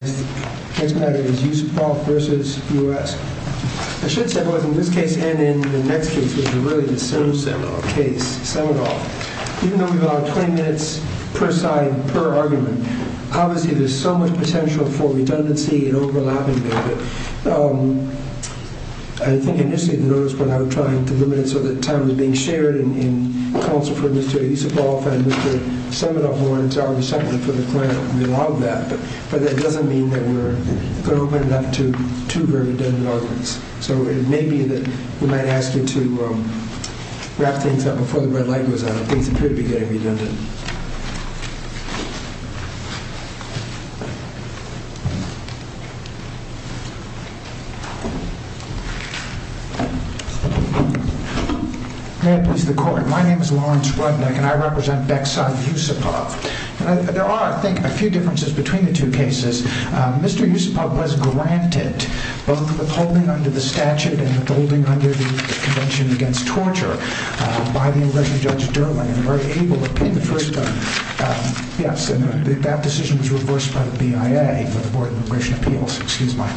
I should say, both in this case and in the next case, which is really the Semidoff case, Semidoff, even though we've allowed 20 minutes per side, per argument, obviously there's so much potential for redundancy and overlapping there. I think initially at the notice board I was trying to limit it so that time was being shared in counsel for Mr. Yuspov and Mr. Semidoff were entirely separate for the client. We allowed that. But that doesn't mean that we're going to open it up to two very redundant arguments. So it may be that we might ask you to wrap things up before the red light goes on if things appear to be getting redundant. May it please the Court. My name is Lawrence Rudnick and I represent Bexson v. Yuspov. There are, I think, a few differences between the two cases. Mr. Yuspov was granted both withholding under the statute and withholding under the Convention Against Torture by the Immigration Judge Durling and very able to pin the first gun. Yes, and that decision was reversed by the BIA for the Board of Immigration Appeals. Excuse my,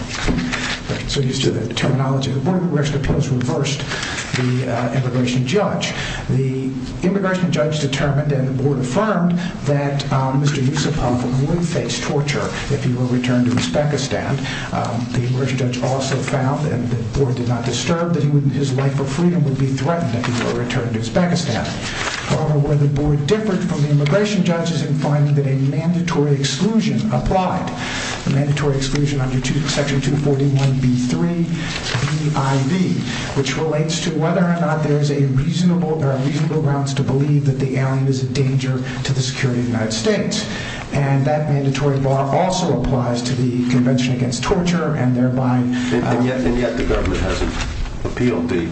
so used to the terminology. The Board of Immigration Appeals reversed the Immigration Judge. The Immigration Judge determined and the Board affirmed that Mr. Yuspov would face torture if he were returned to Uzbekistan. The Immigration Judge also found, and the Board did not disturb, that his right for freedom would be threatened if he were returned to Uzbekistan. However, where the Board differed from the Immigration Judge is in finding that a mandatory exclusion applied. A mandatory exclusion under Section 241B3, B.I.V., which relates to whether or not there is a reasonable, there are reasonable grounds to believe that the alien is a danger to the security of the United States. And that mandatory bar also applies to the Convention Against Torture and thereby... And yet the government hasn't appealed the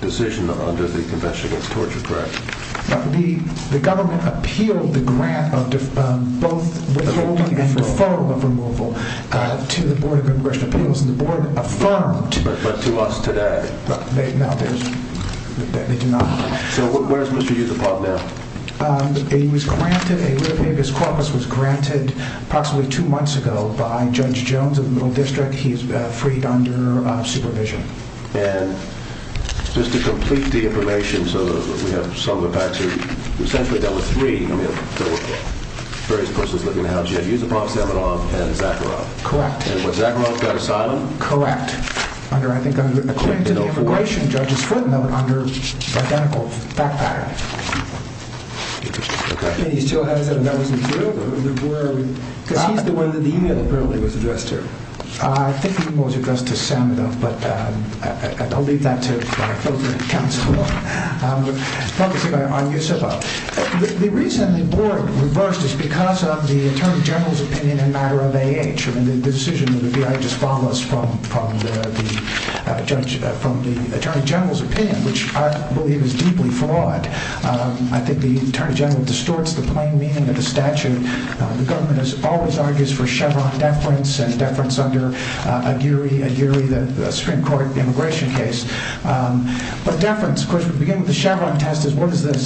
decision under the Convention Against Torture, correct? The government appealed the grant of both withholding and deferral of removal to the Board of Immigration Appeals and the Board affirmed... But to us today. No, there's... They do not. So where is Mr. Yusupov now? He was granted... A libibus corpus was granted approximately two months ago by Judge Jones of the Middle District. He is freed under supervision. And just to complete the information so that we have some of the facts here, essentially dealt with three. I mean, there were various persons living in the house. You had Yusupov, Samanov, and Zakharov. Correct. And was Zakharov got asylum? Correct. Under, I think, under... According to the immigration judge's footnote, under identical backpack. Okay. And he still hasn't... That was in the field? Or where are we... Because he's the one that the email apparently was addressed to. I think the email was addressed to Samanov, but I'll leave that to our filtered counsel. Focusing on Yusupov. The reason the Board reversed is because of the Attorney General's opinion in matter of I mean, the decision of the BIA just follows from the Attorney General's opinion, which I believe is deeply flawed. I think the Attorney General distorts the plain meaning of the statute. The government always argues for Chevron deference and deference under Aguirre, the Supreme Court immigration case. But deference, of course, would begin with the Chevron test is what does the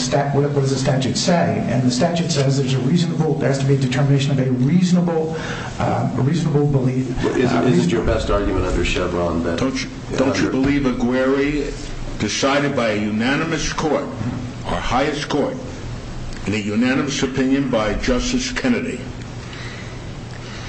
statute say? And the statute says there's a reasonable, there has to be a determination of a reasonable, a reasonable belief... Is it your best argument under Chevron that... Don't you believe Aguirre, decided by a unanimous court, our highest court, in a unanimous opinion by Justice Kennedy,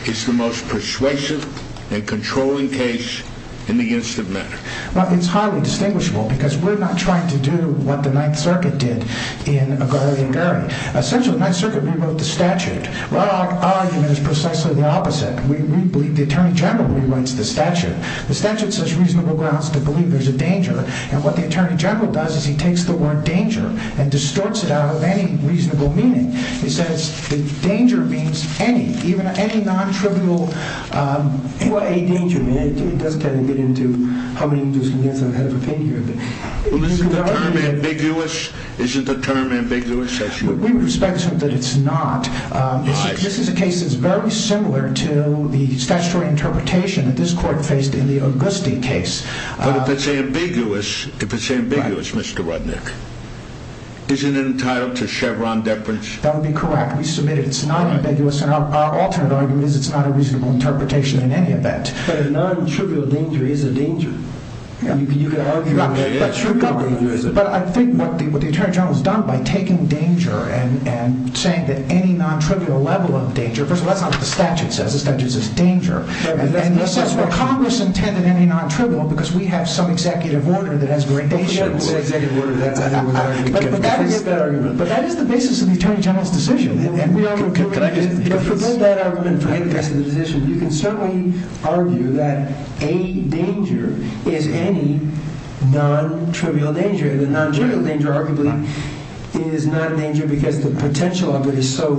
is the most persuasive and controlling case in the instance of matter? Well, it's highly distinguishable because we're not trying to do what the Ninth Circuit did in Aguirre v. Aguirre. Essentially, the Ninth Circuit rewrote the statute. Well, our argument is precisely the opposite. We believe the Attorney General rewrites the statute. The statute says reasonable grounds to believe there's a danger. And what the Attorney General does is he takes the word danger and distorts it out of any reasonable meaning. He says the danger means any, even any non-trivial... Well, a danger, I mean, it does kind of get into how many individuals can get ahead of opinion. Well, isn't the term ambiguous? Isn't the term ambiguous? We respect the term that it's not. This is a case that's very similar to the statutory interpretation that this court faced in the Auguste case. But if it's ambiguous, if it's ambiguous, Mr. Rudnick, isn't it entitled to Chevron deference? That would be correct. We submit it. It's not ambiguous. And our alternate argument is it's not a reasonable interpretation in any event. But a non-trivial danger is a danger. But I think what the Attorney General has done by taking danger and saying that any non-trivial level of danger... First of all, that's not what the statute says. The statute says danger. And he says, well, Congress intended any non-trivial because we have some executive order that has very dangerous... We have some executive order that's... But that is the basis of the Attorney General's decision. And we are... Can I just... Forget that argument. Forget that decision. You can certainly argue that a danger is any non-trivial danger. The non-trivial danger arguably is not a danger because the potential of it is so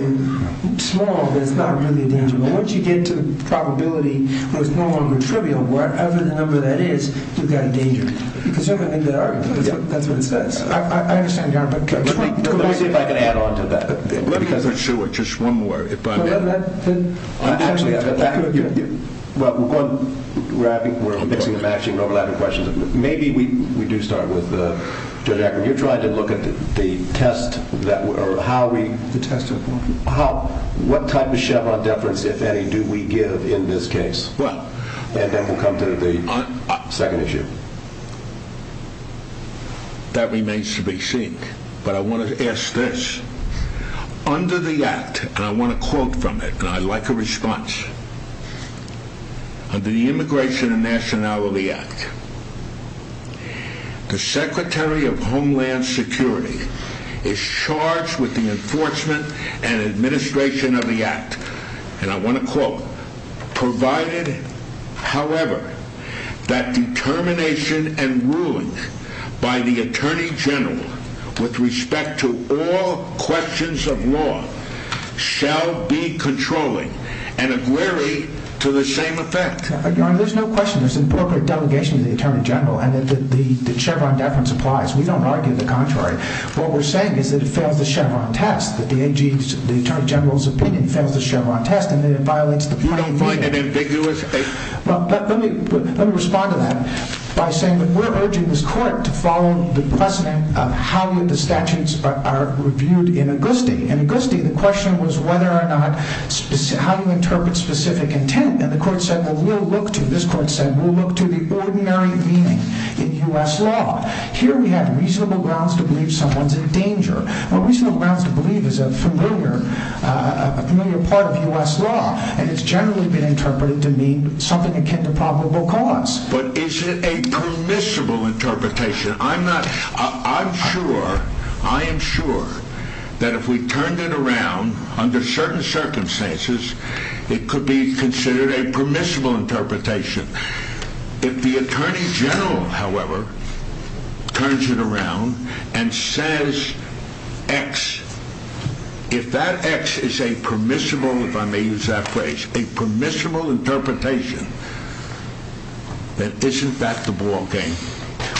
small that it's not really a danger. But once you get to the probability that it's no longer trivial, whatever the number that is, you've got a danger. You can certainly make that argument. That's what it says. I understand, Your Honor. But... Let me see if I can add on to that. Because I'm sure... Just one more. Well, we're mixing and matching overlapping questions. Maybe we do start with Judge Ackerman. You tried to look at the test that... Or how we... The test of what? How... What type of Chevron deference, if any, do we give in this case? Well... And then we'll come to the second issue. That remains to be seen. But I wanted to ask this. Under the Act... And I want a quote from it. And I'd like a response. Under the Immigration and Nationality Act, the Secretary of Homeland Security is charged with the enforcement and administration of the Act. And I want a quote. Provided, however, that determination and ruling by the Attorney General with respect to all questions of law shall be controlling and agree to the same effect. Your Honor, there's no question. There's an appropriate delegation of the Attorney General and that the Chevron deference applies. We don't argue the contrary. What we're saying is that it fails the Chevron test. That the Attorney General's opinion fails the Chevron test and that it violates the... You don't find it ambiguous? Well, let me respond to that by saying that we're urging this Court to follow the precedent of how the statutes are reviewed in Auguste. In Auguste, the question was whether or not... How do you interpret specific intent? And the Court said, well, we'll look to... This Court said, we'll look to the ordinary meaning in U.S. law. Here we have reasonable grounds to believe someone's in danger. Now, reasonable grounds to believe is a familiar part of U.S. law and it's generally been interpreted to mean something akin to probable cause. But is it a permissible interpretation? I'm not... I'm sure... I am sure that if we turned it around under certain circumstances, it could be considered a permissible interpretation. If the Attorney General, however, turns it around and says X, if that X is a permissible, if I may use that phrase, a permissible interpretation, then isn't that the ballgame?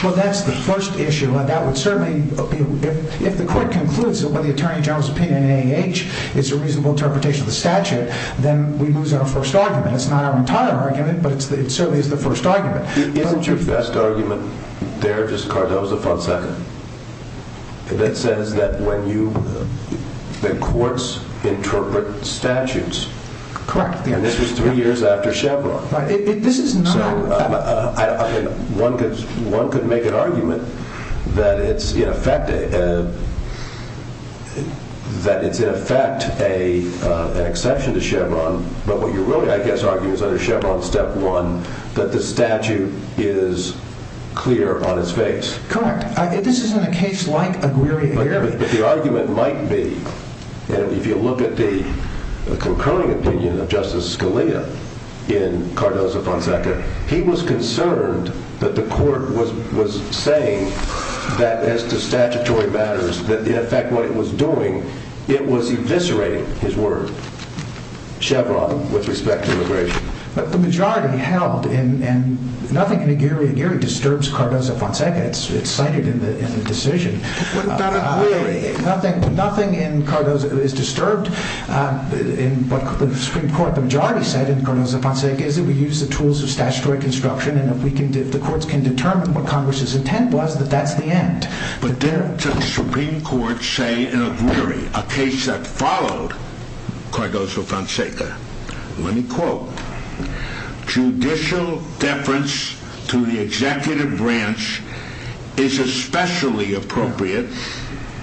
Well, that's the first issue, and that would certainly... If the Court concludes that what the Attorney General's opinion in AAH is a reasonable interpretation of the statute, then we lose our first argument. It's not our entire argument, but it certainly is the first argument. Isn't your best argument there just Cardozo-Fonseca? That says that when you... that courts interpret statutes... Correct. And this is three years after Chevron. This is not... So, I mean, one could make an argument that it's, in effect... that it's, in effect, an exception to Chevron, but what you're really, I guess, arguing is under Chevron Step 1 that the statute is clear on its face. Correct. This isn't a case like Aguirre-Garay. But the argument might be, and if you look at the concurring opinion of Justice Scalia in Cardozo-Fonseca, he was concerned that the Court was saying that as to statutory matters, that, in effect, what it was doing, it was eviscerating his word, Chevron, with respect to immigration. But the majority held, and nothing in Aguirre-Garay disturbs Cardozo-Fonseca. It's cited in the decision. What about Aguirre? Nothing in Cardozo-Fonseca is disturbed. In the Supreme Court, the majority said in Cardozo-Fonseca is that we use the tools of statutory construction and if the courts can determine what Congress's intent was, that that's the end. But there, the Supreme Court say in Aguirre-Garay, a case that followed Cardozo-Fonseca, let me quote, judicial deference to the executive branch is especially appropriate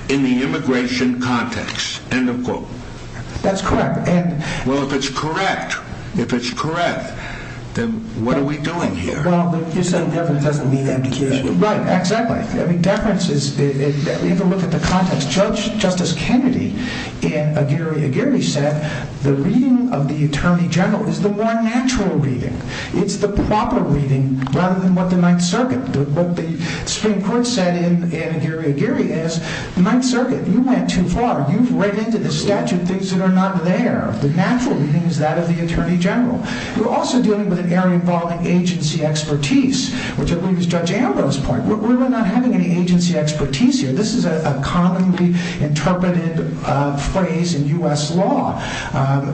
in the immigration context. End of quote. That's correct. Well, if it's correct, if it's correct, then what are we doing here? Well, you're saying deference doesn't mean amnication. Right, exactly. Deference is, if you look at the context, Justice Kennedy in Aguirre-Garay said that the reading of the Attorney General is the more natural reading. It's the proper reading rather than what the Ninth Circuit, what the Supreme Court said in Aguirre-Garay is, the Ninth Circuit, you went too far. You've read into the statute things that are not there. The natural reading is that of the Attorney General. We're also dealing with an area involving agency expertise, which I believe is Judge Ambrose's point. We're not having any agency expertise here. This is a commonly interpreted phrase in U.S. law.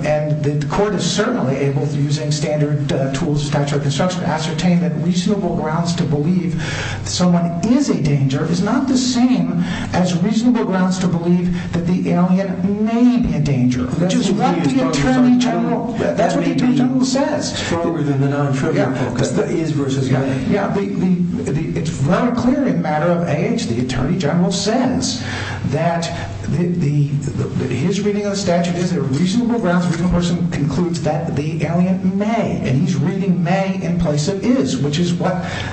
And the court is certainly able, through using standard tools of statute of construction, to ascertain that reasonable grounds to believe someone is a danger is not the same as reasonable grounds to believe that the alien may be a danger, which is what the Attorney General, that's what the Attorney General says. That may be stronger than the non-trivial focus, the is versus is. Yeah, it's very clear in a matter of age, the Attorney General says that his reading of the statute is that reasonable grounds for a reasonable person concludes that the alien may, and he's reading may in place of is, which is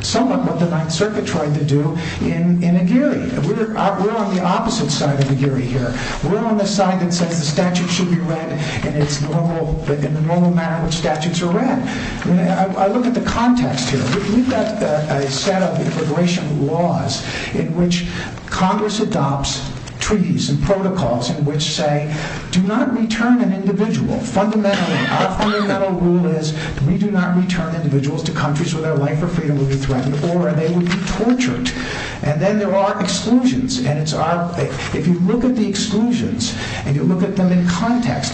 somewhat what the Ninth Circuit tried to do in Aguirre. We're on the opposite side of Aguirre here. We're on the side that says the statute should be read in the normal manner in which statutes are read. I look at the context here. We've got a set of immigration laws in which Congress adopts treaties and protocols in which say, do not return an individual. Fundamentally, our fundamental rule is we do not return individuals to countries where their life or freedom would be threatened or they would be tortured. And then there are exclusions, and it's our... If you look at the exclusions and you look at them in context,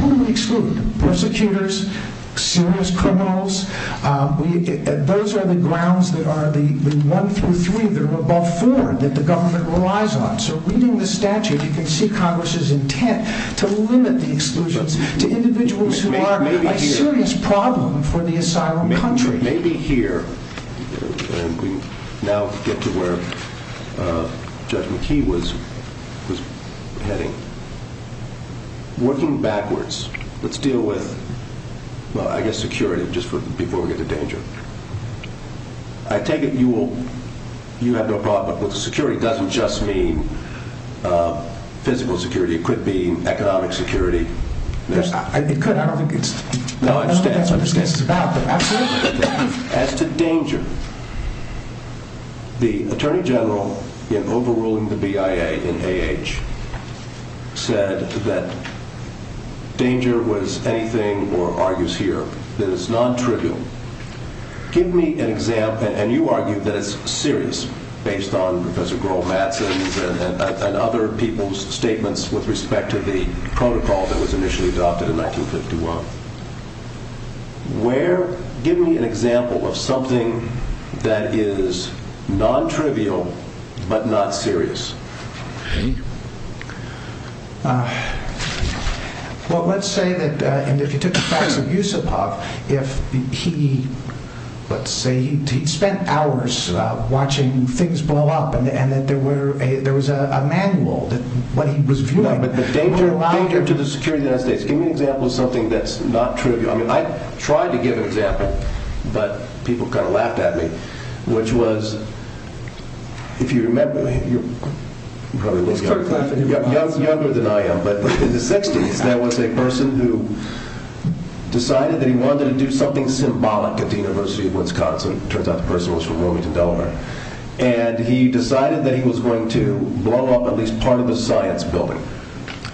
who do we exclude? Persecutors, serious criminals. Those are the grounds that are the one through three or above four that the government relies on. So reading the statute, you can see Congress's intent to limit the exclusions to individuals who are a serious problem for the asylum country. Maybe here, and we now get to where Judge McKee was heading. Working backwards, let's deal with, well, I guess security just before we get to danger. I take it you have no problem... Well, security doesn't just mean physical security. It could be economic security. It could. I don't think it's... No, I understand. That's what this case is about, but absolutely. As to danger, the Attorney General, in overruling the BIA in A.H., said that danger was anything, or argues here, that is non-trivial. Give me an example, and you argue that it's serious, based on Professor Groll-Madsen's and other people's statements with respect to the protocol that was initially adopted in 1951. Give me an example of something that is non-trivial but not serious. Well, let's say that, and if you took the facts of Yusupov, if he, let's say he spent hours watching things blow up and that there was a manual that what he was viewing... No, but danger to the security of the United States. Give me an example of something that's not trivial. I mean, I tried to give an example, but people kind of laughed at me, which was, if you remember, you're probably a little younger than I am, but in the 60s, there was a person who decided that he wanted to do something symbolic at the University of Wisconsin. It turns out the person was from Wilmington, Delaware. And he decided that he was going to blow up at least part of a science building,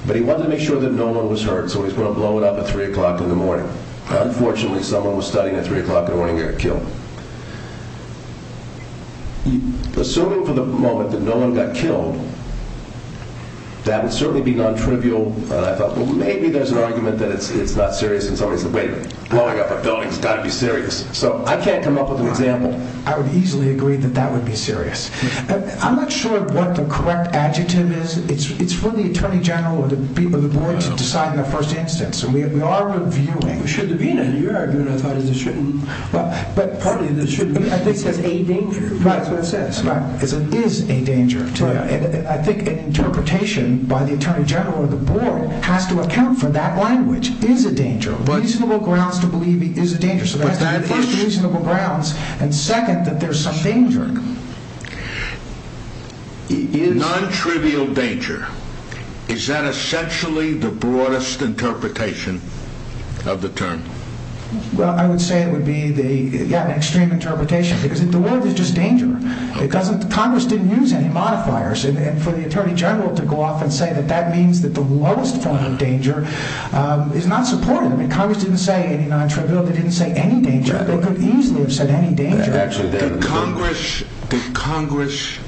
but he wanted to make sure that no one was hurt, so he was going to blow it up at 3 o'clock in the morning. Unfortunately, someone was studying at 3 o'clock in the morning and got killed. Assuming for the moment that no one got killed, that would certainly be non-trivial. And I thought, well, maybe there's an argument that it's not serious, and somebody said, wait a minute, blowing up a building's got to be serious. So I can't come up with an example. I would easily agree that that would be serious. I'm not sure what the correct adjective is. It's for the attorney general or the board to decide in the first instance. We are reviewing. Should there be an argument? I thought there shouldn't. I think it says a danger. Right, that's what it says. It is a danger. I think an interpretation by the attorney general or the board has to account for that language. It is a danger. Reasonable grounds to believe it is a danger. First, reasonable grounds, and second, that there's some danger. Non-trivial danger. Is that essentially the broadest interpretation of the term? Well, I would say it would be an extreme interpretation because the word is just danger. Congress didn't use any modifiers, and for the attorney general to go off and say that that means that the lowest form of danger is not supportive. Congress didn't say any non-trivial. They didn't say any danger. They could easily have said any danger. Did Congress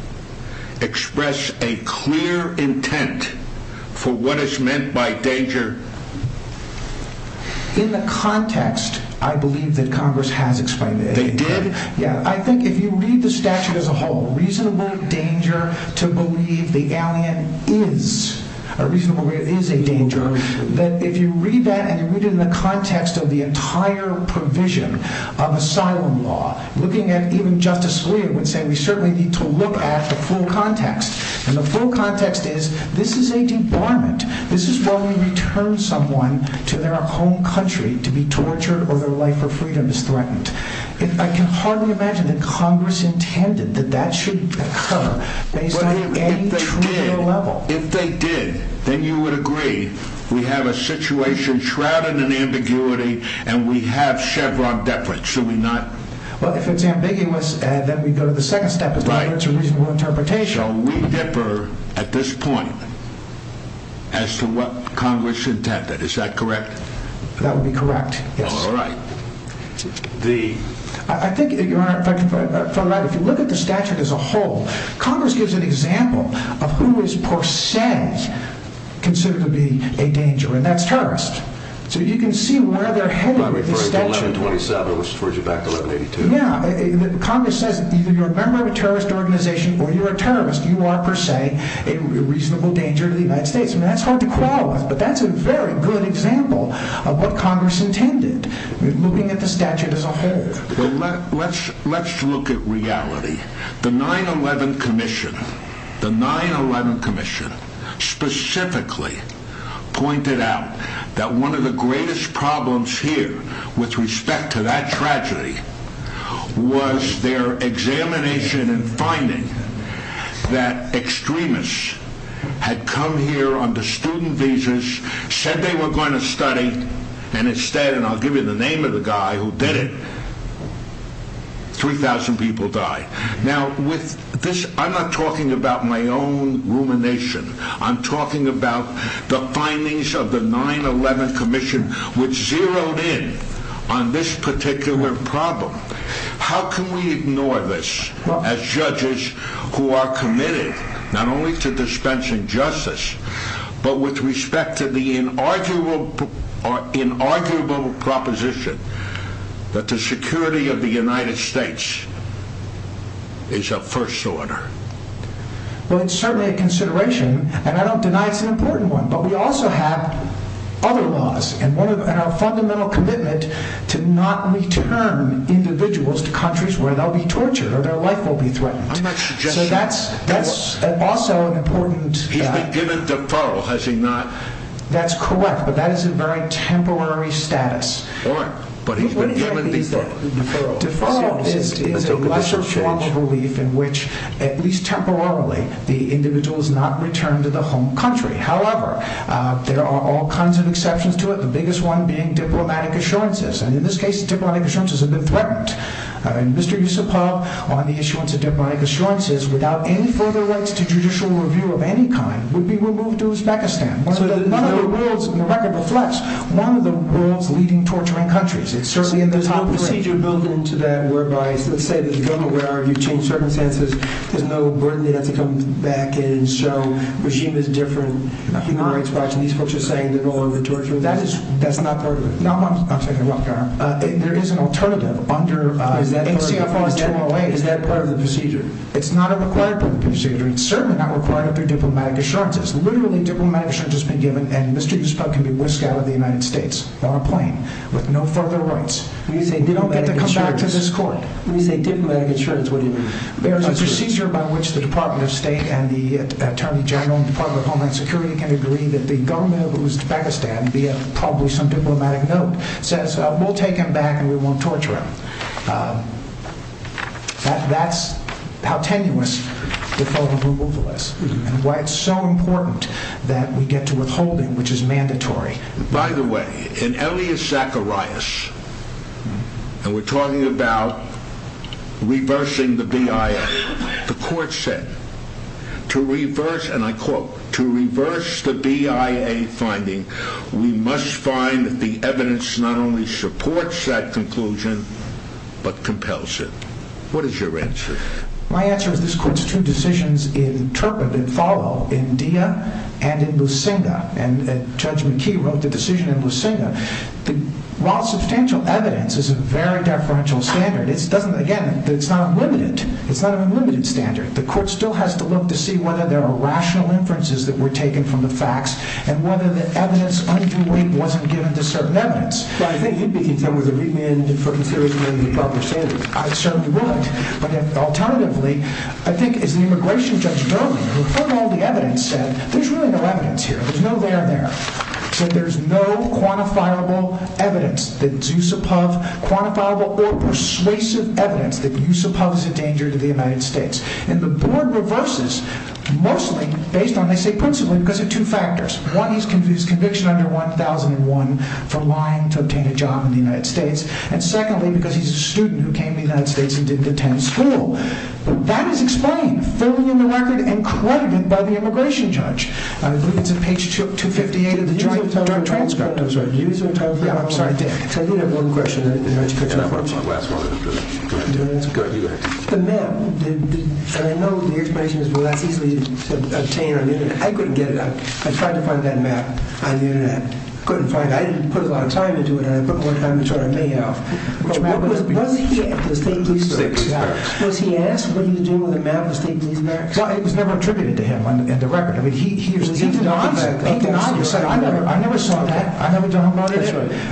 express a clear intent for what is meant by danger? In the context, I believe that Congress has explained it. They did? Yeah, I think if you read the statute as a whole, reasonable danger to believe the alien is a reasonable danger, is a danger, that if you read that and you read it in the context of the entire provision of asylum law, looking at even Justice Scalia would say we certainly need to look at the full context, and the full context is this is a debarment. This is where we return someone to their home country to be tortured or their life for freedom is threatened. I can hardly imagine that Congress intended that that should occur based on any trigger level. If they did, then you would agree we have a situation shrouded in ambiguity and we have Chevron deference, should we not? Well, if it's ambiguous, then we go to the second step as to whether it's a reasonable interpretation. So we differ at this point as to what Congress intended. Is that correct? That would be correct, yes. All right. I think, Your Honor, if I can follow up, if you look at the statute as a whole, Congress gives an example of who is, per se, considered to be a danger, and that's terrorists. So you can see where they're heading with the statute. No, I'm referring to 1127, which refers you back to 1182. Yeah, Congress says, either you're a member of a terrorist organization or you're a terrorist, you are, per se, a reasonable danger to the United States. I mean, that's hard to quell with, but that's a very good example of what Congress intended looking at the statute as a whole. Well, let's look at reality. The 9-11 Commission, the 9-11 Commission, specifically pointed out that one of the greatest problems here, with respect to that tragedy, was their examination and finding that extremists had come here under student visas, said they were going to study, and instead, and I'll give you the name of the guy who did it, 3,000 people died. Now, with this, I'm not talking about my own rumination. I'm talking about the findings of the 9-11 Commission, which zeroed in on this particular problem. How can we ignore this, as judges who are committed not only to dispensing justice, but with respect to the inarguable proposition that the security of the United States is of first order? Well, it's certainly a consideration, and I don't deny it's an important one, but we also have other laws, and our fundamental commitment to not return individuals to countries where they'll be tortured or their life will be threatened. So that's also an important... He's been given deferral, has he not? That's correct, but that is a very temporary status. Deferral is a lesser form of relief in which, at least temporarily, the individual is not returned to the home country. However, there are all kinds of exceptions to it, the biggest one being diplomatic assurances, and in this case, diplomatic assurances have been threatened. Mr. Yusupov, on the issuance of diplomatic assurances, without any further rights to judicial review of any kind, would be removed to Uzbekistan, one of the world's, and the record reflects, one of the world's leading torturing countries. There's no procedure built into that whereby, let's say that the government were to change circumstances, there's no burden they have to come back in, so regime is different, human rights are different, and these folks are saying that all of the torture... That's not part of it. There is an alternative under... Is that part of the procedure? It's not a required part of the procedure. It's certainly not required under diplomatic assurances. Literally, diplomatic assurances have been given, and Mr. Yusupov can be whisked out of the United States on a plane with no further rights. We don't get to come back to this court. When you say diplomatic assurances, what do you mean? There's a procedure by which the Department of State and the Attorney General and the Department of Homeland Security can agree that the government of Uzbekistan, via probably some diplomatic note, says, we'll take him back and we won't torture him. That's how tenuous the federal removal is, and why it's so important that we get to withhold him, which is mandatory. By the way, in Elias Zacharias, and we're talking about reversing the BIA, the court said, to reverse, and I quote, to reverse the BIA finding, we must find that the evidence not only supports that conclusion, but compels it. What is your answer? My answer is this court's two decisions interpret and follow in Dia and in Lusinga, and Judge McKee wrote the decision in Lusinga. While substantial evidence is a very deferential standard, again, it's not unlimited. It's not an unlimited standard. The court still has to look to see whether there are rational inferences that were taken from the facts and whether the evidence underweight wasn't given to certain evidence. But I think you'd be content with a remand for interfering with the appropriate standards. I certainly would, but alternatively, I think, as the immigration judge Durley, who heard all the evidence, said, there's really no evidence here. There's no there there. So there's no quantifiable evidence, quantifiable or persuasive evidence, that Yusupov is a danger to the United States. And the board reverses, mostly based on, they say principally because of two factors. One, his conviction under 1001 for lying to obtain a job in the United States. And secondly, because he's a student who came to the United States and didn't attend school. But that is explained fully in the record and credited by the immigration judge. I believe it's on page 258 of the joint transcript. Do you have time for one more question? Yeah, I'm sorry, Dan. I do have one question. Can I have one last one? Go ahead. You go ahead. The map, and I know the explanation is, well, that's easily obtained on the internet. I couldn't get it. I tried to find that map on the internet. Couldn't find it. I didn't put a lot of time into it. I put more time into it than I may have. Was he asked what he would do with a map of the state of New York? Well, it was never attributed to him in the record. He denied that. He denied it. He said, I never saw that. I never done that.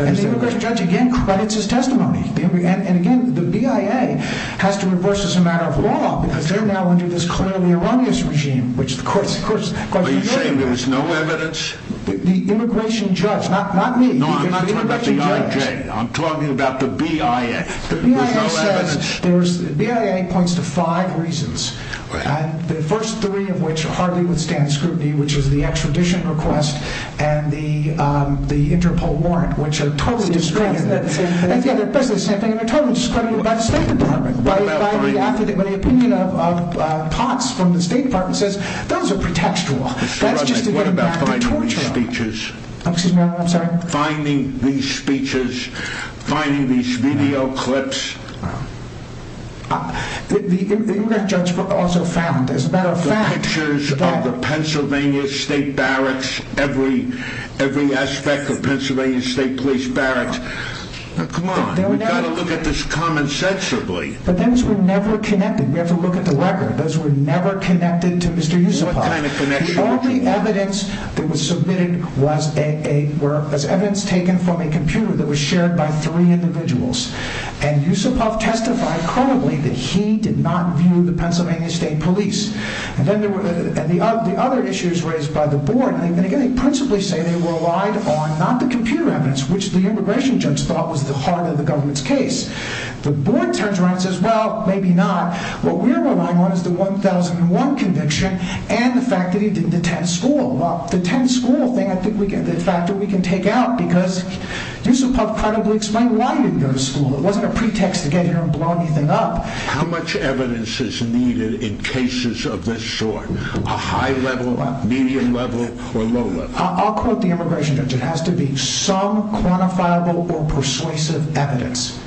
And the immigration judge again credits his testimony. And again, the BIA has to enforce this as a matter of law because they're now under this clearly erroneous regime. Are you saying there's no evidence? The immigration judge, not me. No, I'm not talking about the IJ. I'm talking about the BIA. There's no evidence. BIA points to five reasons, the first three of which hardly withstand scrutiny, which is the extradition request and the Interpol warrant, which are totally discredited. They're basically the same thing. And they're totally discredited by the State Department. What about finding? By the opinion of POTS from the State Department says, those are pretextual. That's just getting back to torture. What about finding these speeches? I'm sorry? Finding these speeches, finding these video clips. The immigration judge also found, as a matter of fact. The pictures of the Pennsylvania State Barracks, every aspect of Pennsylvania State Police Barracks. Come on, we've got to look at this commonsensibly. But those were never connected. We have to look at the record. Those were never connected to Mr. Yusupov. What kind of connection? The only evidence that was submitted was evidence taken from a computer that was shared by three individuals. And Yusupov testified credibly that he did not view the Pennsylvania State Police. And the other issue is raised by the board. And again, they principally say they relied on not the computer evidence, which the immigration judge thought was the heart of the government's case. The board turns around and says, well, maybe not. What we're relying on is the 1001 conviction and the fact that he didn't attend school. Well, the attend school thing, I think, is a factor we can take out because Yusupov credibly explained why he didn't go to school. It wasn't a pretext to get here and blow anything up. How much evidence is needed in cases of this sort? A high level, medium level, or low level? I'll quote the immigration judge. It has to be some quantifiable or persuasive evidence.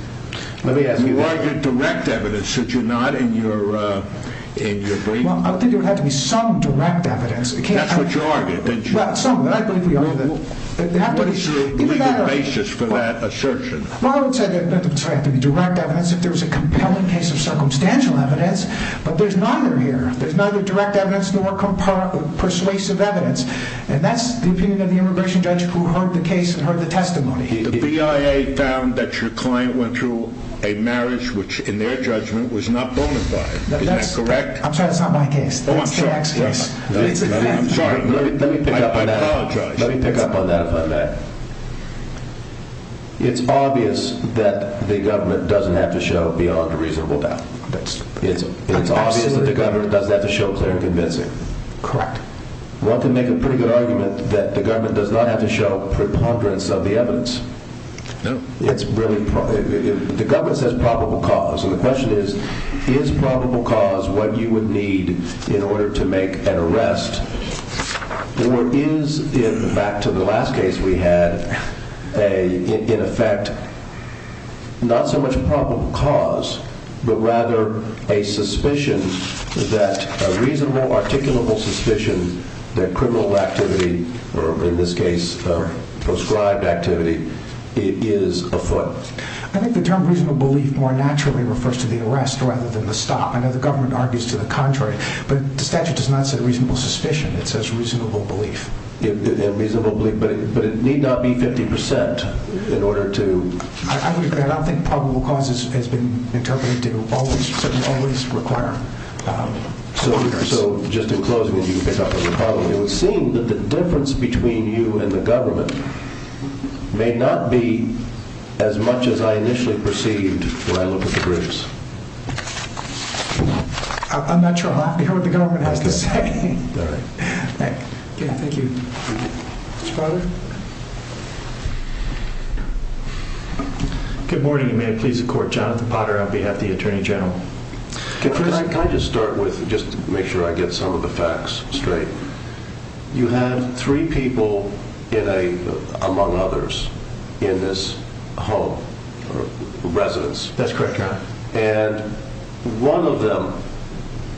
Let me ask you that. Or direct evidence that you're not in your brain? Well, I think it would have to be some direct evidence. That's what you argued, didn't you? Well, some, and I believe we argued that. What is your legal basis for that assertion? Well, I would say there would have to be direct evidence if there was a compelling case of circumstantial evidence. But there's neither here. There's neither direct evidence nor persuasive evidence. And that's the opinion of the immigration judge who heard the case and heard the testimony. The BIA found that your client went through a marriage which in their judgment was not bona fide. Is that correct? I'm sorry, that's not my case. That's the ex-case. I'm sorry, I apologize. Let me pick up on that if I may. It's obvious that the government doesn't have to show beyond a reasonable doubt. It's obvious that the government doesn't have to show clear and convincing. Correct. One can make a pretty good argument that the government does not have to show preponderance of the evidence. No. The government says probable cause. And the question is, is probable cause what you would need in order to make an arrest? Or is, back to the last case we had, in effect, not so much probable cause but rather a suspicion that a reasonable, articulable suspicion that criminal activity, or in this case prescribed activity, is afoot? I think the term reasonable belief more naturally refers to the arrest rather than the stop. I know the government argues to the contrary, but the statute does not say reasonable suspicion. It says reasonable belief. And reasonable belief, but it need not be 50% in order to... I don't think probable cause has been interpreted to always, certainly always require... So, just in closing, if you could pick up on the problem, it would seem that the difference between you and the government may not be as much as I initially perceived when I looked at the groups. I'm not sure I'm happy with what the government has to say. All right. Thank you. Mr. Potter? Good morning, and may it please the court. Jonathan Potter on behalf of the Attorney General. Can I just start with, just to make sure I get some of the facts straight. You had three people in a, among others, in this home, residence. That's correct, Your Honor. And one of them,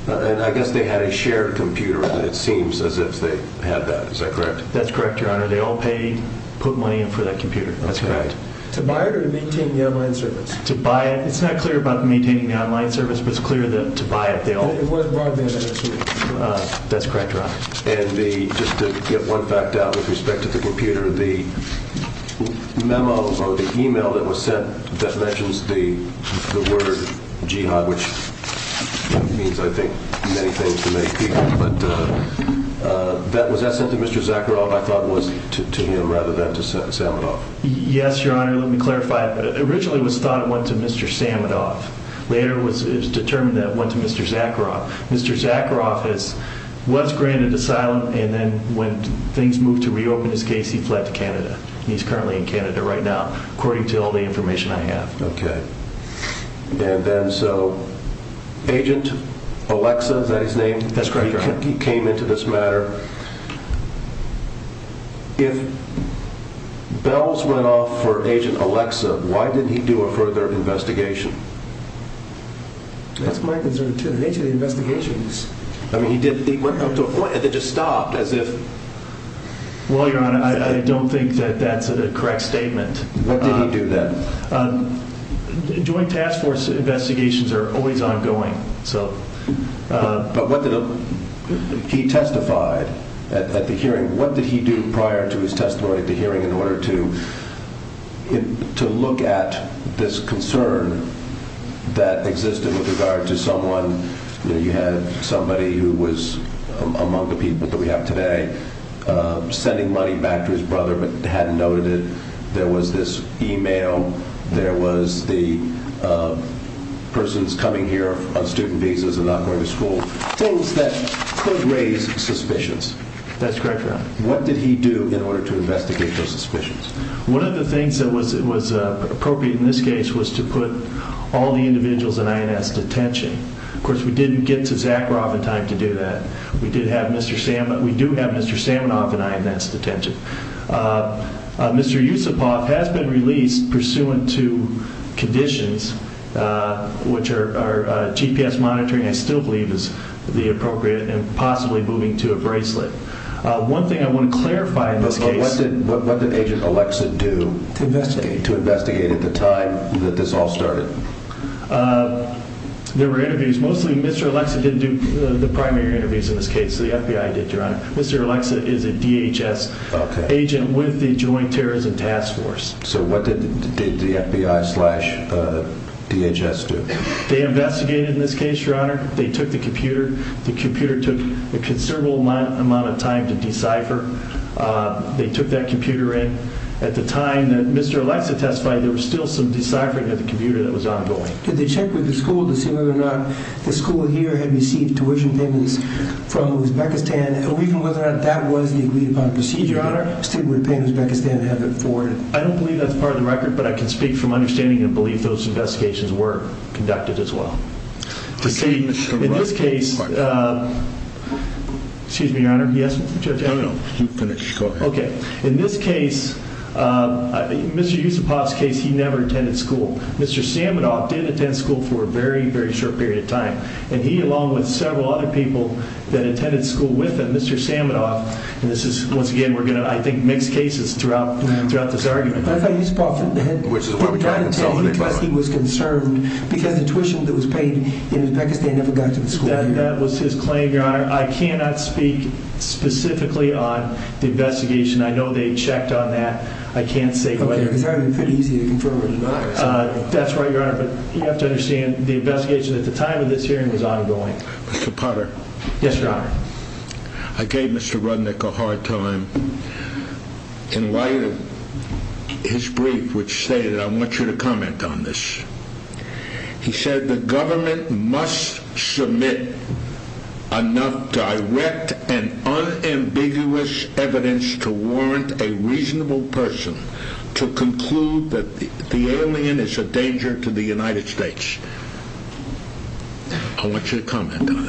and I guess they had a shared computer, and it seems as if they had that. Is that correct? That's correct, Your Honor. They all paid, put money in for that computer. That's correct. To buy it or to maintain the online service? To buy it. It's not clear about maintaining the online service, but it's clear that to buy it, they all... It wasn't broadband, I assume. That's correct, Your Honor. And just to get one fact out with respect to the computer, the memo or the email that was sent that mentions the word jihad, which means, I think, many things to many people, but was that sent to Mr. Zakharov, I thought it was, to him rather than to Sametov? Yes, Your Honor. Let me clarify. Originally, it was thought it went to Mr. Sametov. Later, it was determined that it went to Mr. Zakharov. Mr. Zakharov was granted asylum, and then when things moved to reopen his case, he fled to Canada. He's currently in Canada right now, according to all the information I have. Okay. And then, so, Agent Alexa, is that his name? That's correct, Your Honor. He came into this matter. If bells went off for Agent Alexa, why didn't he do a further investigation? That's my concern, too. The nature of the investigations. I mean, he went up to a point and then just stopped as if... Well, Your Honor, I don't think that that's a correct statement. What did he do then? Joint task force investigations are always ongoing, so... But what did he testify at the hearing? What did he do prior to his testimony at the hearing in order to look at this concern that existed with regard to someone? You had somebody who was among the people that we have today sending money back to his brother but hadn't noted it. There was this e-mail. There was the person's coming here on student visas and not going to school. Things that could raise suspicions. That's correct, Your Honor. What did he do in order to investigate those suspicions? One of the things that was appropriate in this case was to put all the individuals in INS detention. Of course, we didn't get to Zakharov in time to do that. We did have Mr. Samanov. We do have Mr. Samanov in INS detention. Mr. Yusupov has been released pursuant to conditions, which are GPS monitoring I still believe is the appropriate and possibly moving to a bracelet. One thing I want to clarify in this case... What did Agent Alexa do to investigate at the time that this all started? There were interviews. Mostly Mr. Alexa didn't do the primary interviews in this case. The FBI did, Your Honor. Mr. Alexa is a DHS agent with the Joint Terrorism Task Force. So what did the FBI slash DHS do? They investigated in this case, Your Honor. They took the computer. The computer took a considerable amount of time to decipher. They took that computer in. At the time that Mr. Alexa testified, there was still some deciphering of the computer that was ongoing. Did they check with the school to see whether or not the school here had received tuition payments from Uzbekistan? And even whether or not that was the agreed-upon procedure, Your Honor, still would pay Uzbekistan to have it forwarded? I don't believe that's part of the record, but I can speak from understanding and belief those investigations were conducted as well. In this case... Excuse me, Your Honor. No, no. You finish. Go ahead. Okay. In this case, Mr. Yusupov's case, he never attended school. Mr. Saminov did attend school for a very, very short period of time. And he, along with several other people that attended school with him, Mr. Saminov, and this is, once again, we're going to, I think, mix cases throughout this argument. But I thought Yusupov didn't attend because he was concerned because the tuition that was paid in Uzbekistan never got to the school. That was his claim, Your Honor. I cannot speak specifically on the investigation. I know they checked on that. I can't say whether... Okay. Because that would have been pretty easy to confirm or deny. That's right, Your Honor. But you have to understand the investigation at the time of this hearing was ongoing. Mr. Potter. Yes, Your Honor. I gave Mr. Rudnick a hard time in light of his brief, which stated, I want you to comment on this. He said, I want you to comment on that.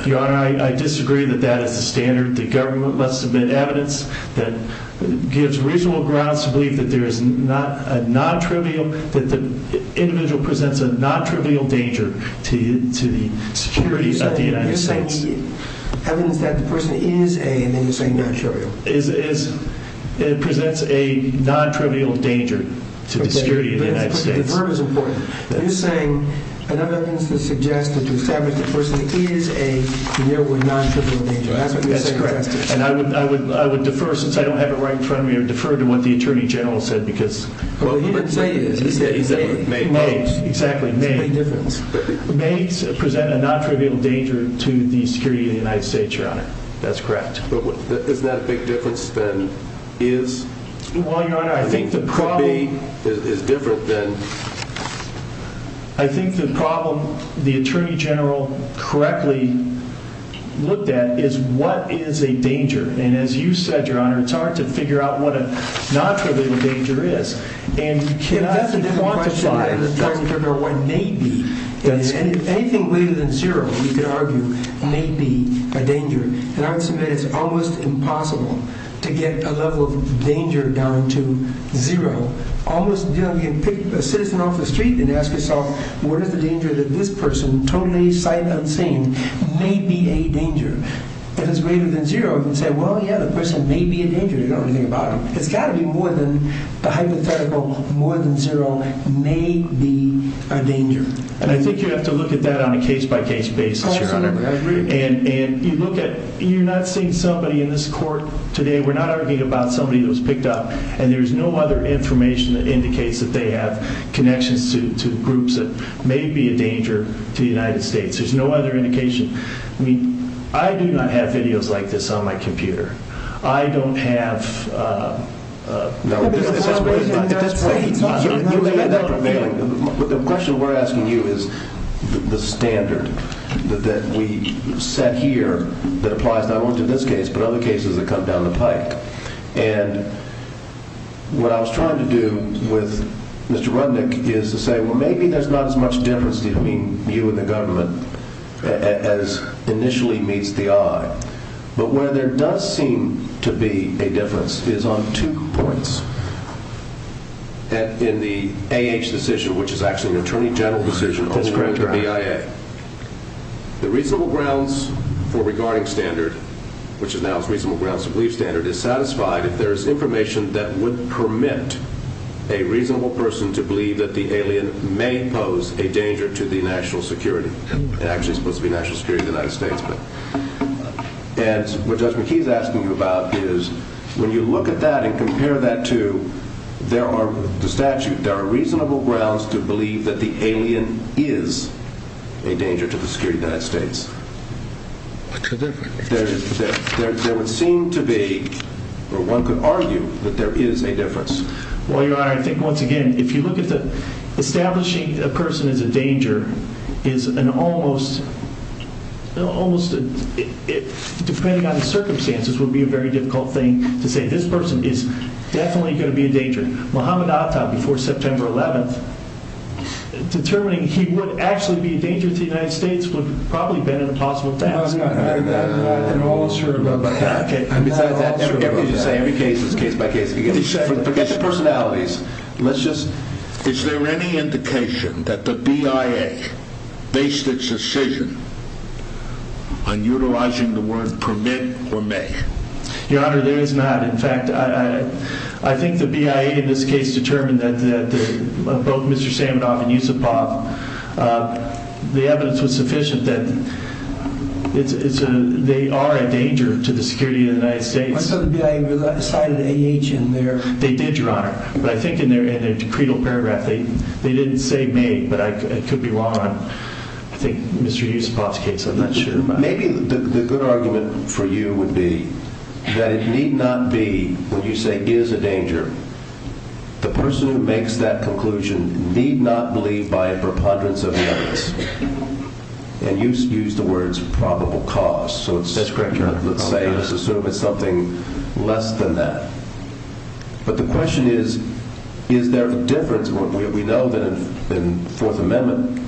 Your Honor, I disagree that that is the standard. The government must submit evidence that gives reasonable grounds to believe that there is a non-trivial, that the individual presents a non-trivial danger to the security of the United States. You're saying evidence that the person is a, and then you're saying non-trivial. It presents a non-trivial danger to the security of the United States. Okay. But the verb is important. You're saying another evidence to suggest that to establish the person is a near non-trivial danger. That's what you're suggesting. That's correct. And I would defer, since I don't have it right in front of me, I would defer to what the Attorney General said, because Well, he didn't say it. He said it made no difference. Exactly. It made no difference. It may present a non-trivial danger to the security of the United States, Your Honor. That's correct. But isn't that a big difference than is? Well, Your Honor, I think the problem could be, is different than I think the problem the Attorney General correctly looked at is what is a danger? And as you said, Your Honor, it's hard to figure out what a non-trivial danger is. And you cannot even quantify It doesn't even question that the Attorney General what may be, anything greater than zero, we could argue, may be a danger. And I would submit it's almost impossible to get a level of danger down to zero. Almost, you know, you can pick a citizen off the street and ask yourself, what is the danger that this person, totally sight unseen, may be a danger? If it's greater than zero, you can say, well, yeah, the person may be a danger. You don't have to think about it. It's got to be more than the hypothetical more than zero may be a danger. And I think you have to look at that on a case-by-case basis, Your Honor. And you look at, you're not seeing somebody in this court today we're not arguing about somebody that was picked up and there's no other information that indicates that they have connections to groups that may be a danger to the United States. There's no other indication. I mean, I do not have videos like this on my computer. I don't have... No, that's right. You may have that from mailing. The question we're asking you is the standard that we set here that applies not only to this case but other cases that come down the pike. And what I was trying to do with Mr. Rundick is to say, well, maybe there's not as much difference between you and the government as initially meets the eye. But where there does seem to be a difference is on two points in the A.H. decision, which is actually an attorney general decision on behalf of the BIA. The reasonable grounds for regarding standard, which is now as reasonable grounds to believe standard, is satisfied if there is information that would permit a reasonable person to believe that the alien may pose a danger to the national security. It actually is supposed to be national security of the United States. And what Judge McKee is asking you about is when you look at that and compare that to the statute, there are reasonable grounds to believe that the alien is a danger to the security of the United States. What's the difference? There would seem to be, or one could argue, that there is a difference. Well, Your Honor, I think, once again, if you look at establishing a person as a danger is an almost... almost... depending on the circumstances, would be a very difficult thing to say. This person is definitely going to be a danger. Muhammad Atta, before September 11th, determining he would actually be a danger to the United States would probably have been an impossible task. No, I'm not. I'm not at all sure about that. I'm not at all sure about that. Forget the personalities. Let's just... Is there any indication that the BIA based its decision on utilizing the word permit or may? Your Honor, there is not. In fact, I think the BIA in this case determined that both Mr. Saminoff and Yusupov, the evidence was sufficient that they are a danger to the security of the United States. I thought the BIA cited A.H. in there. They did, Your Honor. But I think in their credal paragraph, they didn't say may, but it could be wrong. I think Mr. Yusupov's case, I'm not sure. Maybe the good argument for you would be that it need not be, when you say is a danger, the person who makes that conclusion need not believe by a preponderance of evidence. And you used the words probable cause. That's correct, Your Honor. Let's say this is something less than that. But the question is, is there a difference? We know that in Fourth Amendment,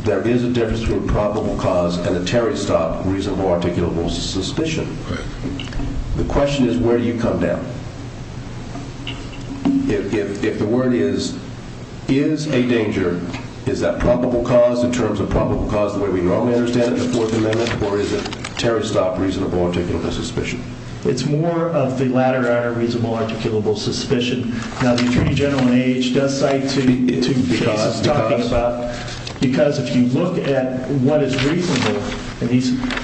there is a difference between probable cause and a terry-stop reasonable articulable suspicion. The question is, where do you come down? If the word is a danger, is that probable cause in terms of probable cause the way we normally understand it in the Fourth Amendment, or is it a terry-stop reasonable articulable suspicion? It's more of the latter, Your Honor, reasonable articulable suspicion. Now, the Attorney General in A.H. does cite 2 cases talking about... Because? Because if you look at what is reasonable,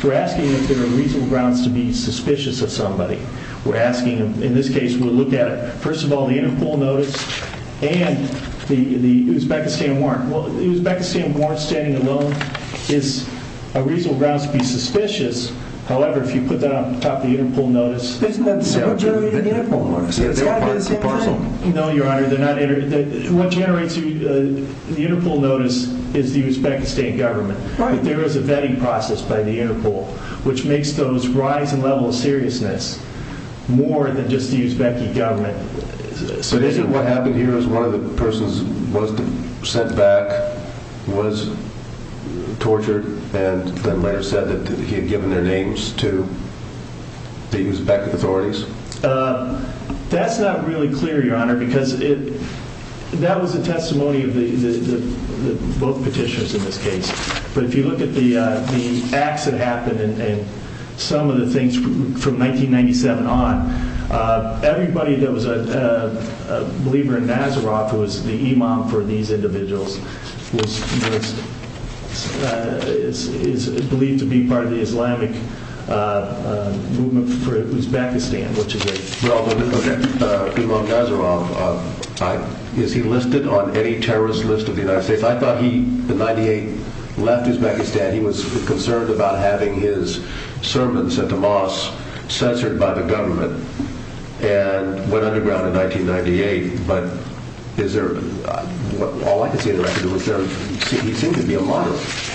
we're asking if there are reasonable grounds to be suspicious of somebody. We're asking, in this case, we'll look at it. First of all, the Interpol notice and the Uzbekistan warrant. Well, the Uzbekistan warrant standing alone is a reasonable grounds to be suspicious. However, if you put that on top of the Interpol notice... Isn't that the same? What generates the Interpol notice? It's got to be the same thing. No, Your Honor, they're not... What generates the Interpol notice is the Uzbekistan government. But there is a vetting process by the Interpol, which makes those rise in level of seriousness more than just the Uzbekistan government. But isn't what happened here is one of the persons was sent back and was tortured and then later said that he had given their names to the Uzbek authorities? That's not really clear, Your Honor, because that was a testimony of both petitions in this case. But if you look at the acts that happened and some of the things from 1997 on, everybody that was a believer in Nazaroth who was the imam for these individuals was believed to be part of the Islamic movement for Uzbekistan, which is a... Well, okay, imam Nazaroth, is he listed on any terrorist list of the United States? I thought he, in 98, left Uzbekistan. He was concerned about having his sermons at the mosque censored by the government and went underground in 1998. But is there... All I can say on the record is he seemed to be alive.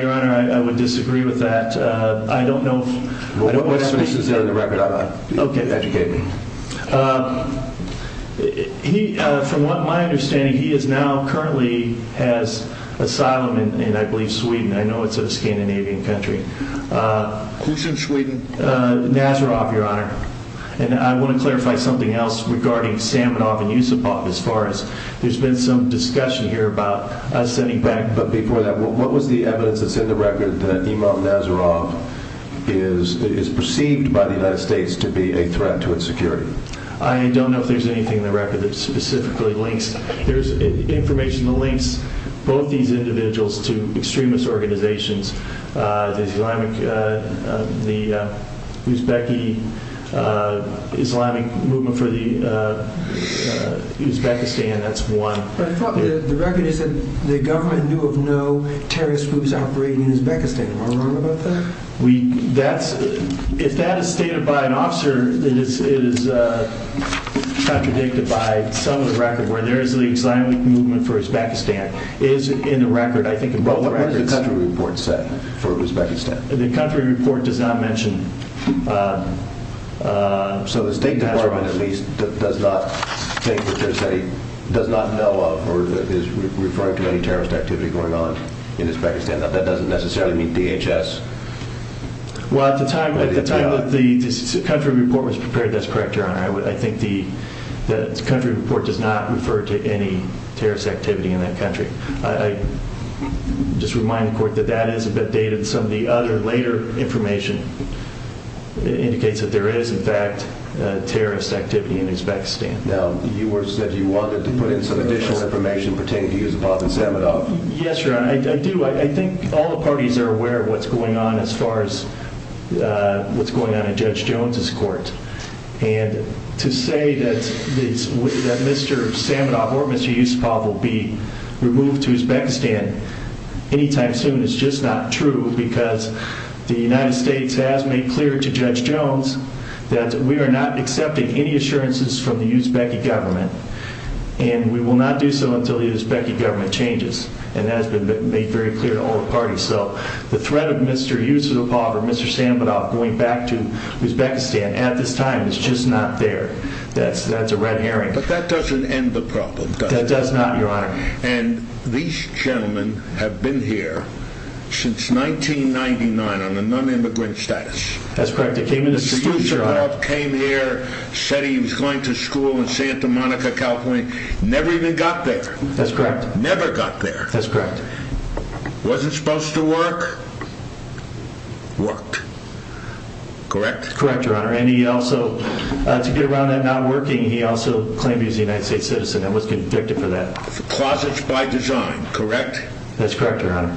Your Honor, I would disagree with that. I don't know... What evidence is there on the record? Educate me. From what my understanding, he is now currently has asylum in, I believe, Sweden. I know it's a Scandinavian country. Who's in Sweden? Nazaroth, Your Honor. And I want to clarify something else regarding Samanov and Yusupov as far as... There's been some discussion here about us sending back... But before that, what was the evidence that's in the record that imam Nazaroth is perceived by the United States to be a threat to its security? I don't know if there's anything in the record that specifically links. There's information that links both these individuals to extremist organizations. The Uzbek Islamic Movement for Uzbekistan, that's one. But the record is that the government knew of no terrorist groups operating in Uzbekistan. Am I wrong about that? That's... If that is stated by an officer, it is contradicted by some of the record. Where there is the Islamic Movement for Uzbekistan is in the record, I think, in both records. What does the country report say for Uzbekistan? The country report does not mention... So the State Department, at least, does not think that they're saying... does not know of or is referring to any terrorist activity going on in Uzbekistan. That doesn't necessarily mean DHS. Well, at the time that the country report was prepared, that's correct, Your Honor. I think the country report does not refer to any terrorist activity in that country. I just remind the court that that is a bit dated. Some of the other later information indicates that there is, in fact, terrorist activity in Uzbekistan. Now, you said you wanted to put in some additional information pertaining to Yusupov and Sametov. Yes, Your Honor, I do. I think all the parties are aware of what's going on as far as what's going on in Judge Jones's court. And to say that Mr. Sametov or Mr. Yusupov will be removed to Uzbekistan anytime soon is just not true because the United States has made clear to Judge Jones that we are not accepting any assurances from the Uzbek government, and we will not do so until the Uzbek government changes. And that has been made very clear to all the parties. So the threat of Mr. Yusupov or Mr. Sametov going back to Uzbekistan at this time is just not there. But that doesn't end the problem, does it? That does not, Your Honor. And these gentlemen have been here since 1999 on a non-immigrant status. That's correct. They came in as students, Your Honor. Mr. Yusupov came here, said he was going to school in Santa Monica, California. Never even got there. That's correct. Never got there. That's correct. Wasn't supposed to work. Worked. Correct? Correct, Your Honor. And he also, to get around that not working, he also claimed he was a United States citizen and was convicted for that. For closets by design, correct? That's correct, Your Honor.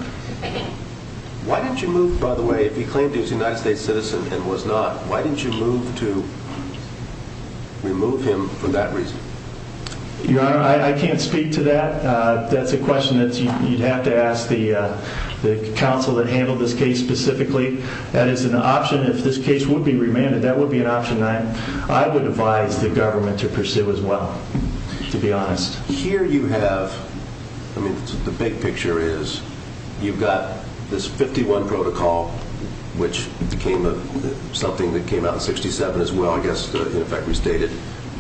Why didn't you move, by the way, if he claimed he was a United States citizen and was not, why didn't you move to remove him for that reason? Your Honor, I can't speak to that. That's a question that you'd have to ask the counsel that handled this case specifically. That is an option. If this case would be remanded, that would be an option. I would advise the government to pursue as well, to be honest. Here you have, I mean, the big picture is you've got this 51 protocol, which became something that came out in 67 as well, I guess, in effect, restated.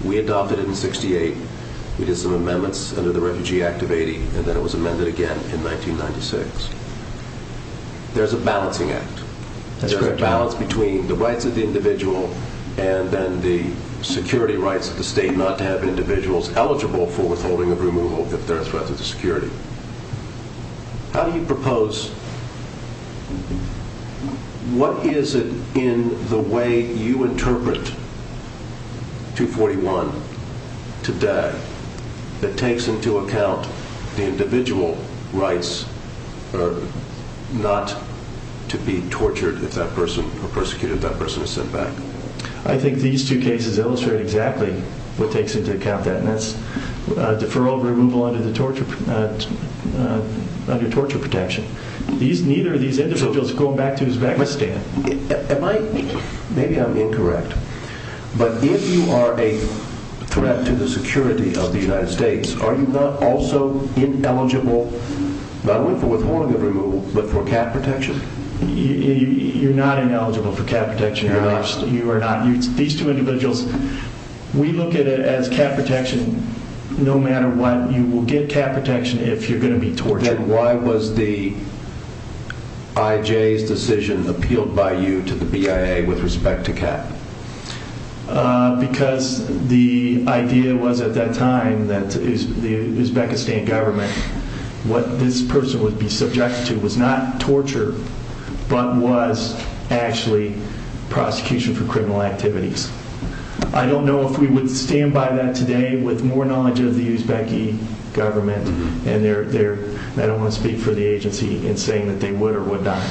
We adopted it in 68. We did some amendments under the Refugee Act of 80, and then it was amended again in 1996. There's a balancing act. There's a balance between the rights of the individual and then the security rights of the state and the need not to have individuals eligible for withholding of removal if they're a threat to the security. How do you propose, what is it in the way you interpret 241 today that takes into account the individual rights not to be tortured if that person, or persecuted if that person is sent back? I think these two cases illustrate exactly what takes into account that, and that's deferral of removal under torture protection. Neither of these individuals are going back to his back stand. Maybe I'm incorrect, but if you are a threat to the security of the United States, are you not also ineligible, not only for withholding of removal, but for cap protection? You're not ineligible for cap protection. You are not. These two individuals, we look at it as cap protection. No matter what, you will get cap protection if you're going to be tortured. Then why was the IJ's decision appealed by you to the BIA with respect to cap? Because the idea was at that time that the Uzbekistan government, what this person would be subjected to was not torture, but was actually prosecution for criminal activities. I don't know if we would stand by that today with more knowledge of the Uzbek government, and I don't want to speak for the agency in saying that they would or would not.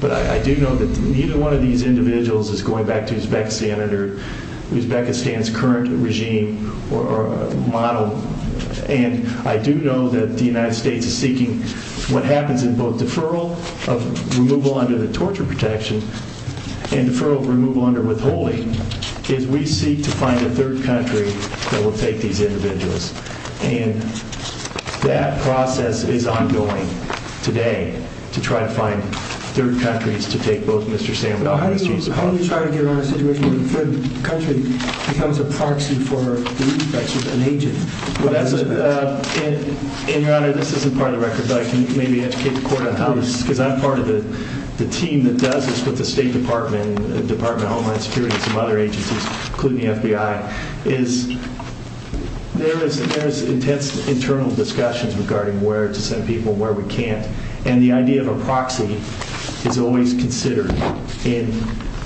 But I do know that neither one of these individuals is going back to Uzbekistan under Uzbekistan's current regime or model. And I do know that the United States is seeking what happens in both deferral of removal under the torture protection and deferral of removal under withholding is we seek to find a third country that will take these individuals. And that process is ongoing today to try to find third countries to take both Mr. Sandler and Mr. Yusufov. Now, how do you try to get around a situation where the third country becomes a proxy for the reference with an agent? And, Your Honor, this isn't part of the record, but I can maybe educate the court on how this is, because I'm part of the team that does this with the State Department, Department of Homeland Security, and some other agencies, including the FBI, is there is intense internal discussions regarding where to send people, where we can't. And the idea of a proxy is always considered in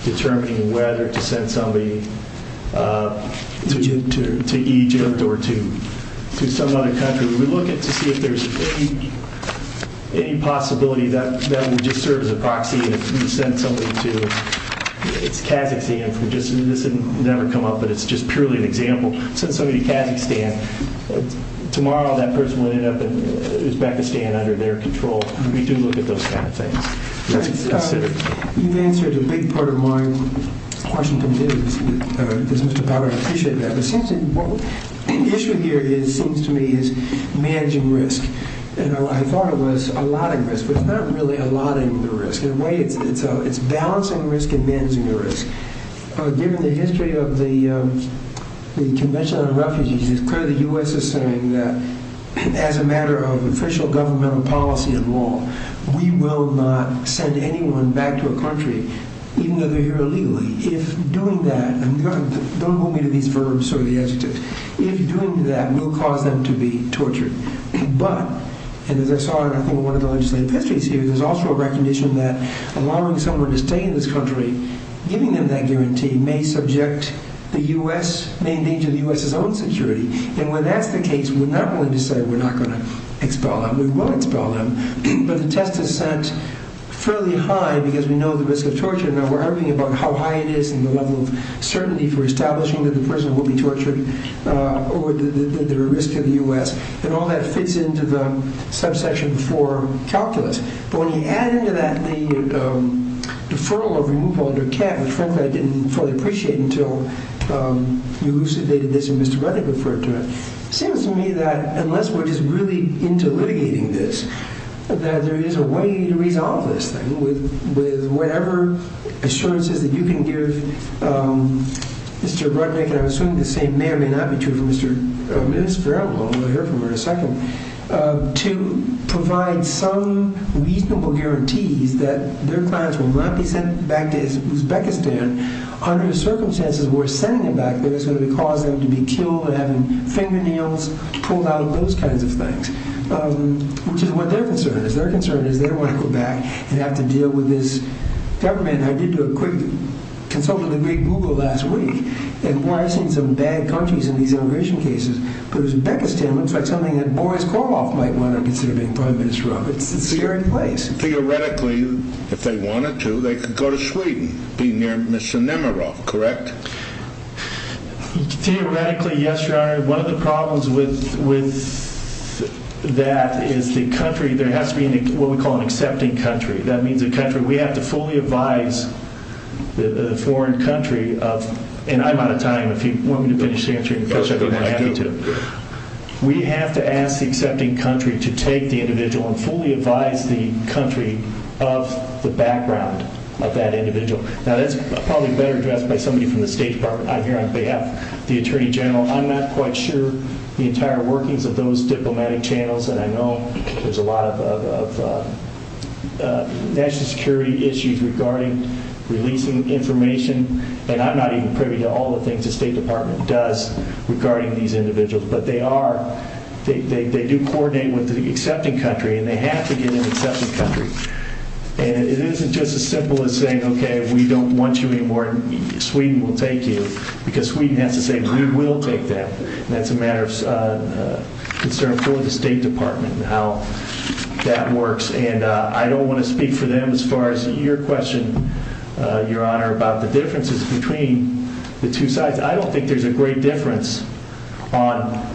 determining whether to send somebody to Egypt or to some other country. We look to see if there's any possibility that that would just serve as a proxy if we sent somebody to Kazakhstan. This has never come up, but it's just purely an example. Send somebody to Kazakhstan. Tomorrow, that person will end up in Uzbekistan under their control. We do look at those kind of things. That's it. You've answered a big part of my question today. Does Mr. Powell appreciate that? The issue here seems to me is managing risk. I thought it was allotting risk, but it's not really allotting the risk. In a way, it's balancing risk and managing the risk. Given the history of the Convention on Refugees, it's clear the U.S. is saying that as a matter of official governmental policy and law, we will not send anyone back to a country, even though they're here illegally. If doing that... Don't hold me to these verbs or the adjectives. If doing that, we'll cause them to be tortured. But, as I saw in one of the legislative histories here, there's also a recognition that allowing someone to stay in this country, giving them that guarantee, may subject the U.S., may endanger the U.S.'s own security. When that's the case, we're not going to decide we're not going to expel them. We will expel them, but the test is set fairly high because we know the risk of torture. Now, we're arguing about how high it is and the level of certainty for establishing that the prisoner will be tortured over the risk of the U.S., and all that fits into the subsection before calculus. But when you add into that the deferral of removal under CAT, which frankly I didn't fully appreciate until you elucidated this and Mr. Reddick referred to it, it seems to me that unless we're just really into litigating this, that there is a way to resolve this thing with whatever assurances that you can give Mr. Reddick, and I'm assuming the same may or may not be true for Ms. Farrell, although we'll hear from her in a second, to provide some reasonable guarantees that their clients will not be sent back to Uzbekistan under the circumstances where sending them back there is going to cause them to be killed or have fingernails pulled out, those kinds of things, which is what their concern is. Their concern is they don't want to go back and have to deal with this government. I did do a quick consult with the Greek Google last week and boy, I've seen some bad countries in these immigration cases, but Uzbekistan looks like something that Boris Karloff might want to consider being Prime Minister of. It's a scary place. Theoretically, if they wanted to, they could go to Sweden, be near Mr. Nemiroff, correct? Theoretically, yes, Your Honor. One of the problems with that is the country, there has to be what we call an accepting country. That means a country, we have to fully advise the foreign country of, and I'm out of time. If you want me to finish answering the question, I'm happy to. We have to ask the accepting country to take the individual and fully advise the country of the background of that individual. Now, that's probably better addressed by somebody from the State Department. I'm here on behalf of the Attorney General. I'm not quite sure the entire workings of those diplomatic channels, and I know there's a lot of national security issues regarding releasing information, and I'm not even privy to all the things the State Department does regarding these individuals, but they do coordinate with the accepting country, and they have to get an accepting country. It isn't just as simple as saying, okay, we don't want you anymore, Sweden will take you, because Sweden has to say, we will take them. That's a matter of concern for the State Department and how that works, and I don't want to speak for them as far as your question, Your Honor, about the differences between the two sides. I don't think there's a great difference on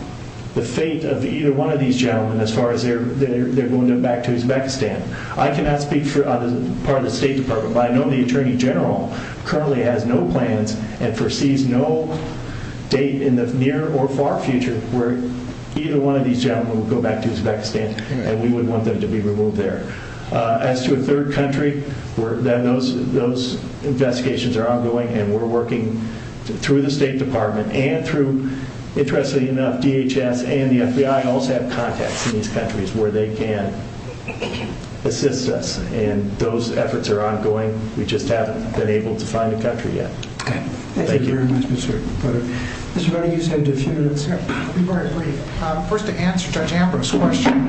the fate of either one of these gentlemen as far as they're going back to Uzbekistan. I cannot speak for the part of the State Department, but I know the Attorney General currently has no plans and foresees no date in the near or far future where either one of these gentlemen will go back to Uzbekistan, and we would want them to be removed there. As to a third country, those investigations are ongoing, and we're working through the State Department and through, interestingly enough, DHS and the FBI also have contacts in these countries where they can assist us, and those efforts are ongoing. We just haven't been able to find a country yet. Okay. Thank you. Thank you very much, Mr. Potter. Mr. Bonaghi, you just had a few minutes here. I'll be very brief. First, to answer Judge Ambrose's question,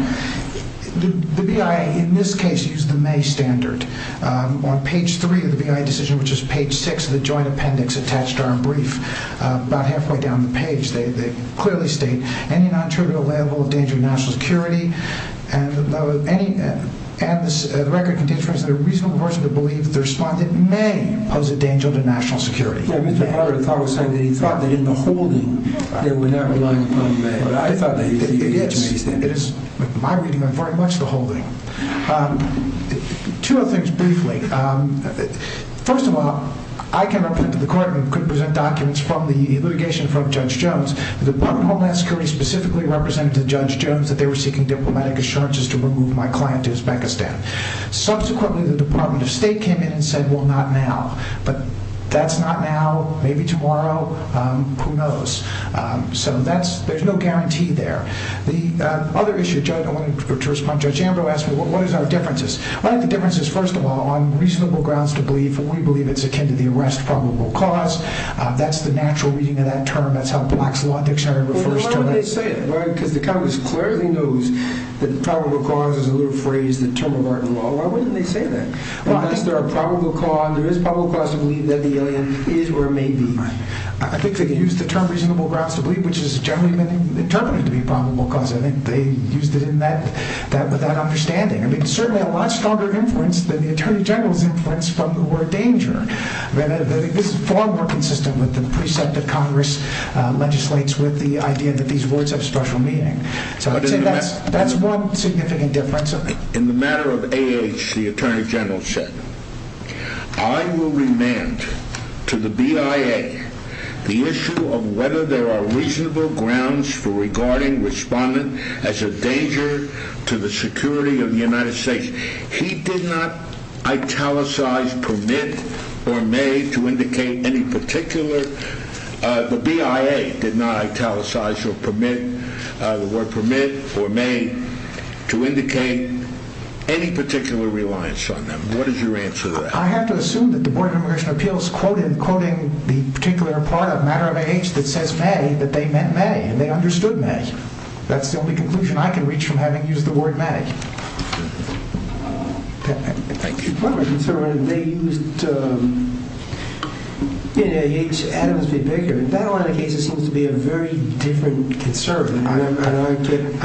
the BIA in this case used the May standard. On page 3 of the BIA decision, which is page 6 of the joint appendix attached to our brief, about halfway down the page, they clearly state, any non-trivial level of danger to national security, and the record contains a reasonable portion of the belief that the respondent may pose a danger to national security. Mr. Potter thought that in the holding, they were not relying upon May, but I thought that he used the May standard. It is my reading of very much the holding. Two other things briefly. First of all, I can repent to the court and could present documents from the litigation in front of Judge Jones. The Department of Homeland Security specifically represented to Judge Jones that they were seeking diplomatic assurances to remove my client to Uzbekistan. Subsequently, the Department of State came in and said, well, not now. But that's not now. Maybe tomorrow. Who knows? So there's no guarantee there. The other issue, Judge, I wanted to respond to what Judge Ambrose asked me, what is our differences? One of the differences, first of all, on reasonable grounds to believe, and we believe it's akin to the arrest probable cause. That's the natural reading of that term. That's how Black's Law Dictionary refers to it. Well, why would they say it? Because the Congress clearly knows that probable cause is a little phrase that uses the term of art in law. Why wouldn't they say that? Unless there are probable cause, there is probable cause to believe that the alien is or may be. I think they use the term reasonable grounds to believe, which has generally been interpreted to be probable cause. I think they used it with that understanding. I mean, certainly a lot stronger influence than the Attorney General's influence from the word danger. I think this is far more consistent with the precept that Congress legislates with the idea that these words have special meaning. That's one significant difference. In the matter of AH, the Attorney General said, I will remand to the BIA the issue of whether there are reasonable grounds for regarding respondent as a danger to the security of the United States. He did not italicize permit or may to indicate any particular... The BIA did not italicize or permit the word permit or may to indicate any particular reliance on them. What is your answer to that? I have to assume that the Board of Immigration Appeals quoted quoting the particular part of matter of AH that says may, that they meant may and they understood may. That's the only conclusion I can reach from having used the word may. Thank you. They used in AH Adams v. Baker. In that line of case, it seems to be a very different concern. I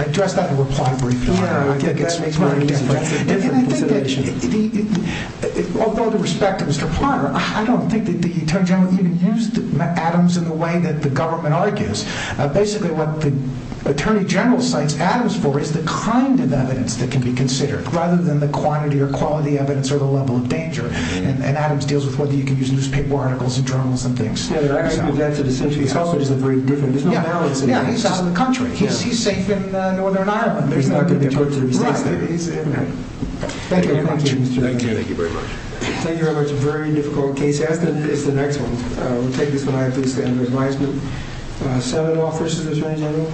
addressed that in reply briefly. That's a different consideration. Although the respect of Mr. Potter, I don't think that the Attorney General even used Adams in the way that the government argues. Basically, what the Attorney General cites Adams for is the kind of evidence that can be considered rather than the quantity or quality evidence or the level of danger. And Adams deals with whether you can use newspaper articles and journals and things. That's essentially how it is. There's no balance. He's out of the country. He's safe in Northern Ireland. Thank you. Thank you very much. Thank you very much. A very difficult case. It's the next one. We'll take this one. I think it's the end of the advisement. Seven offers to the Attorney General.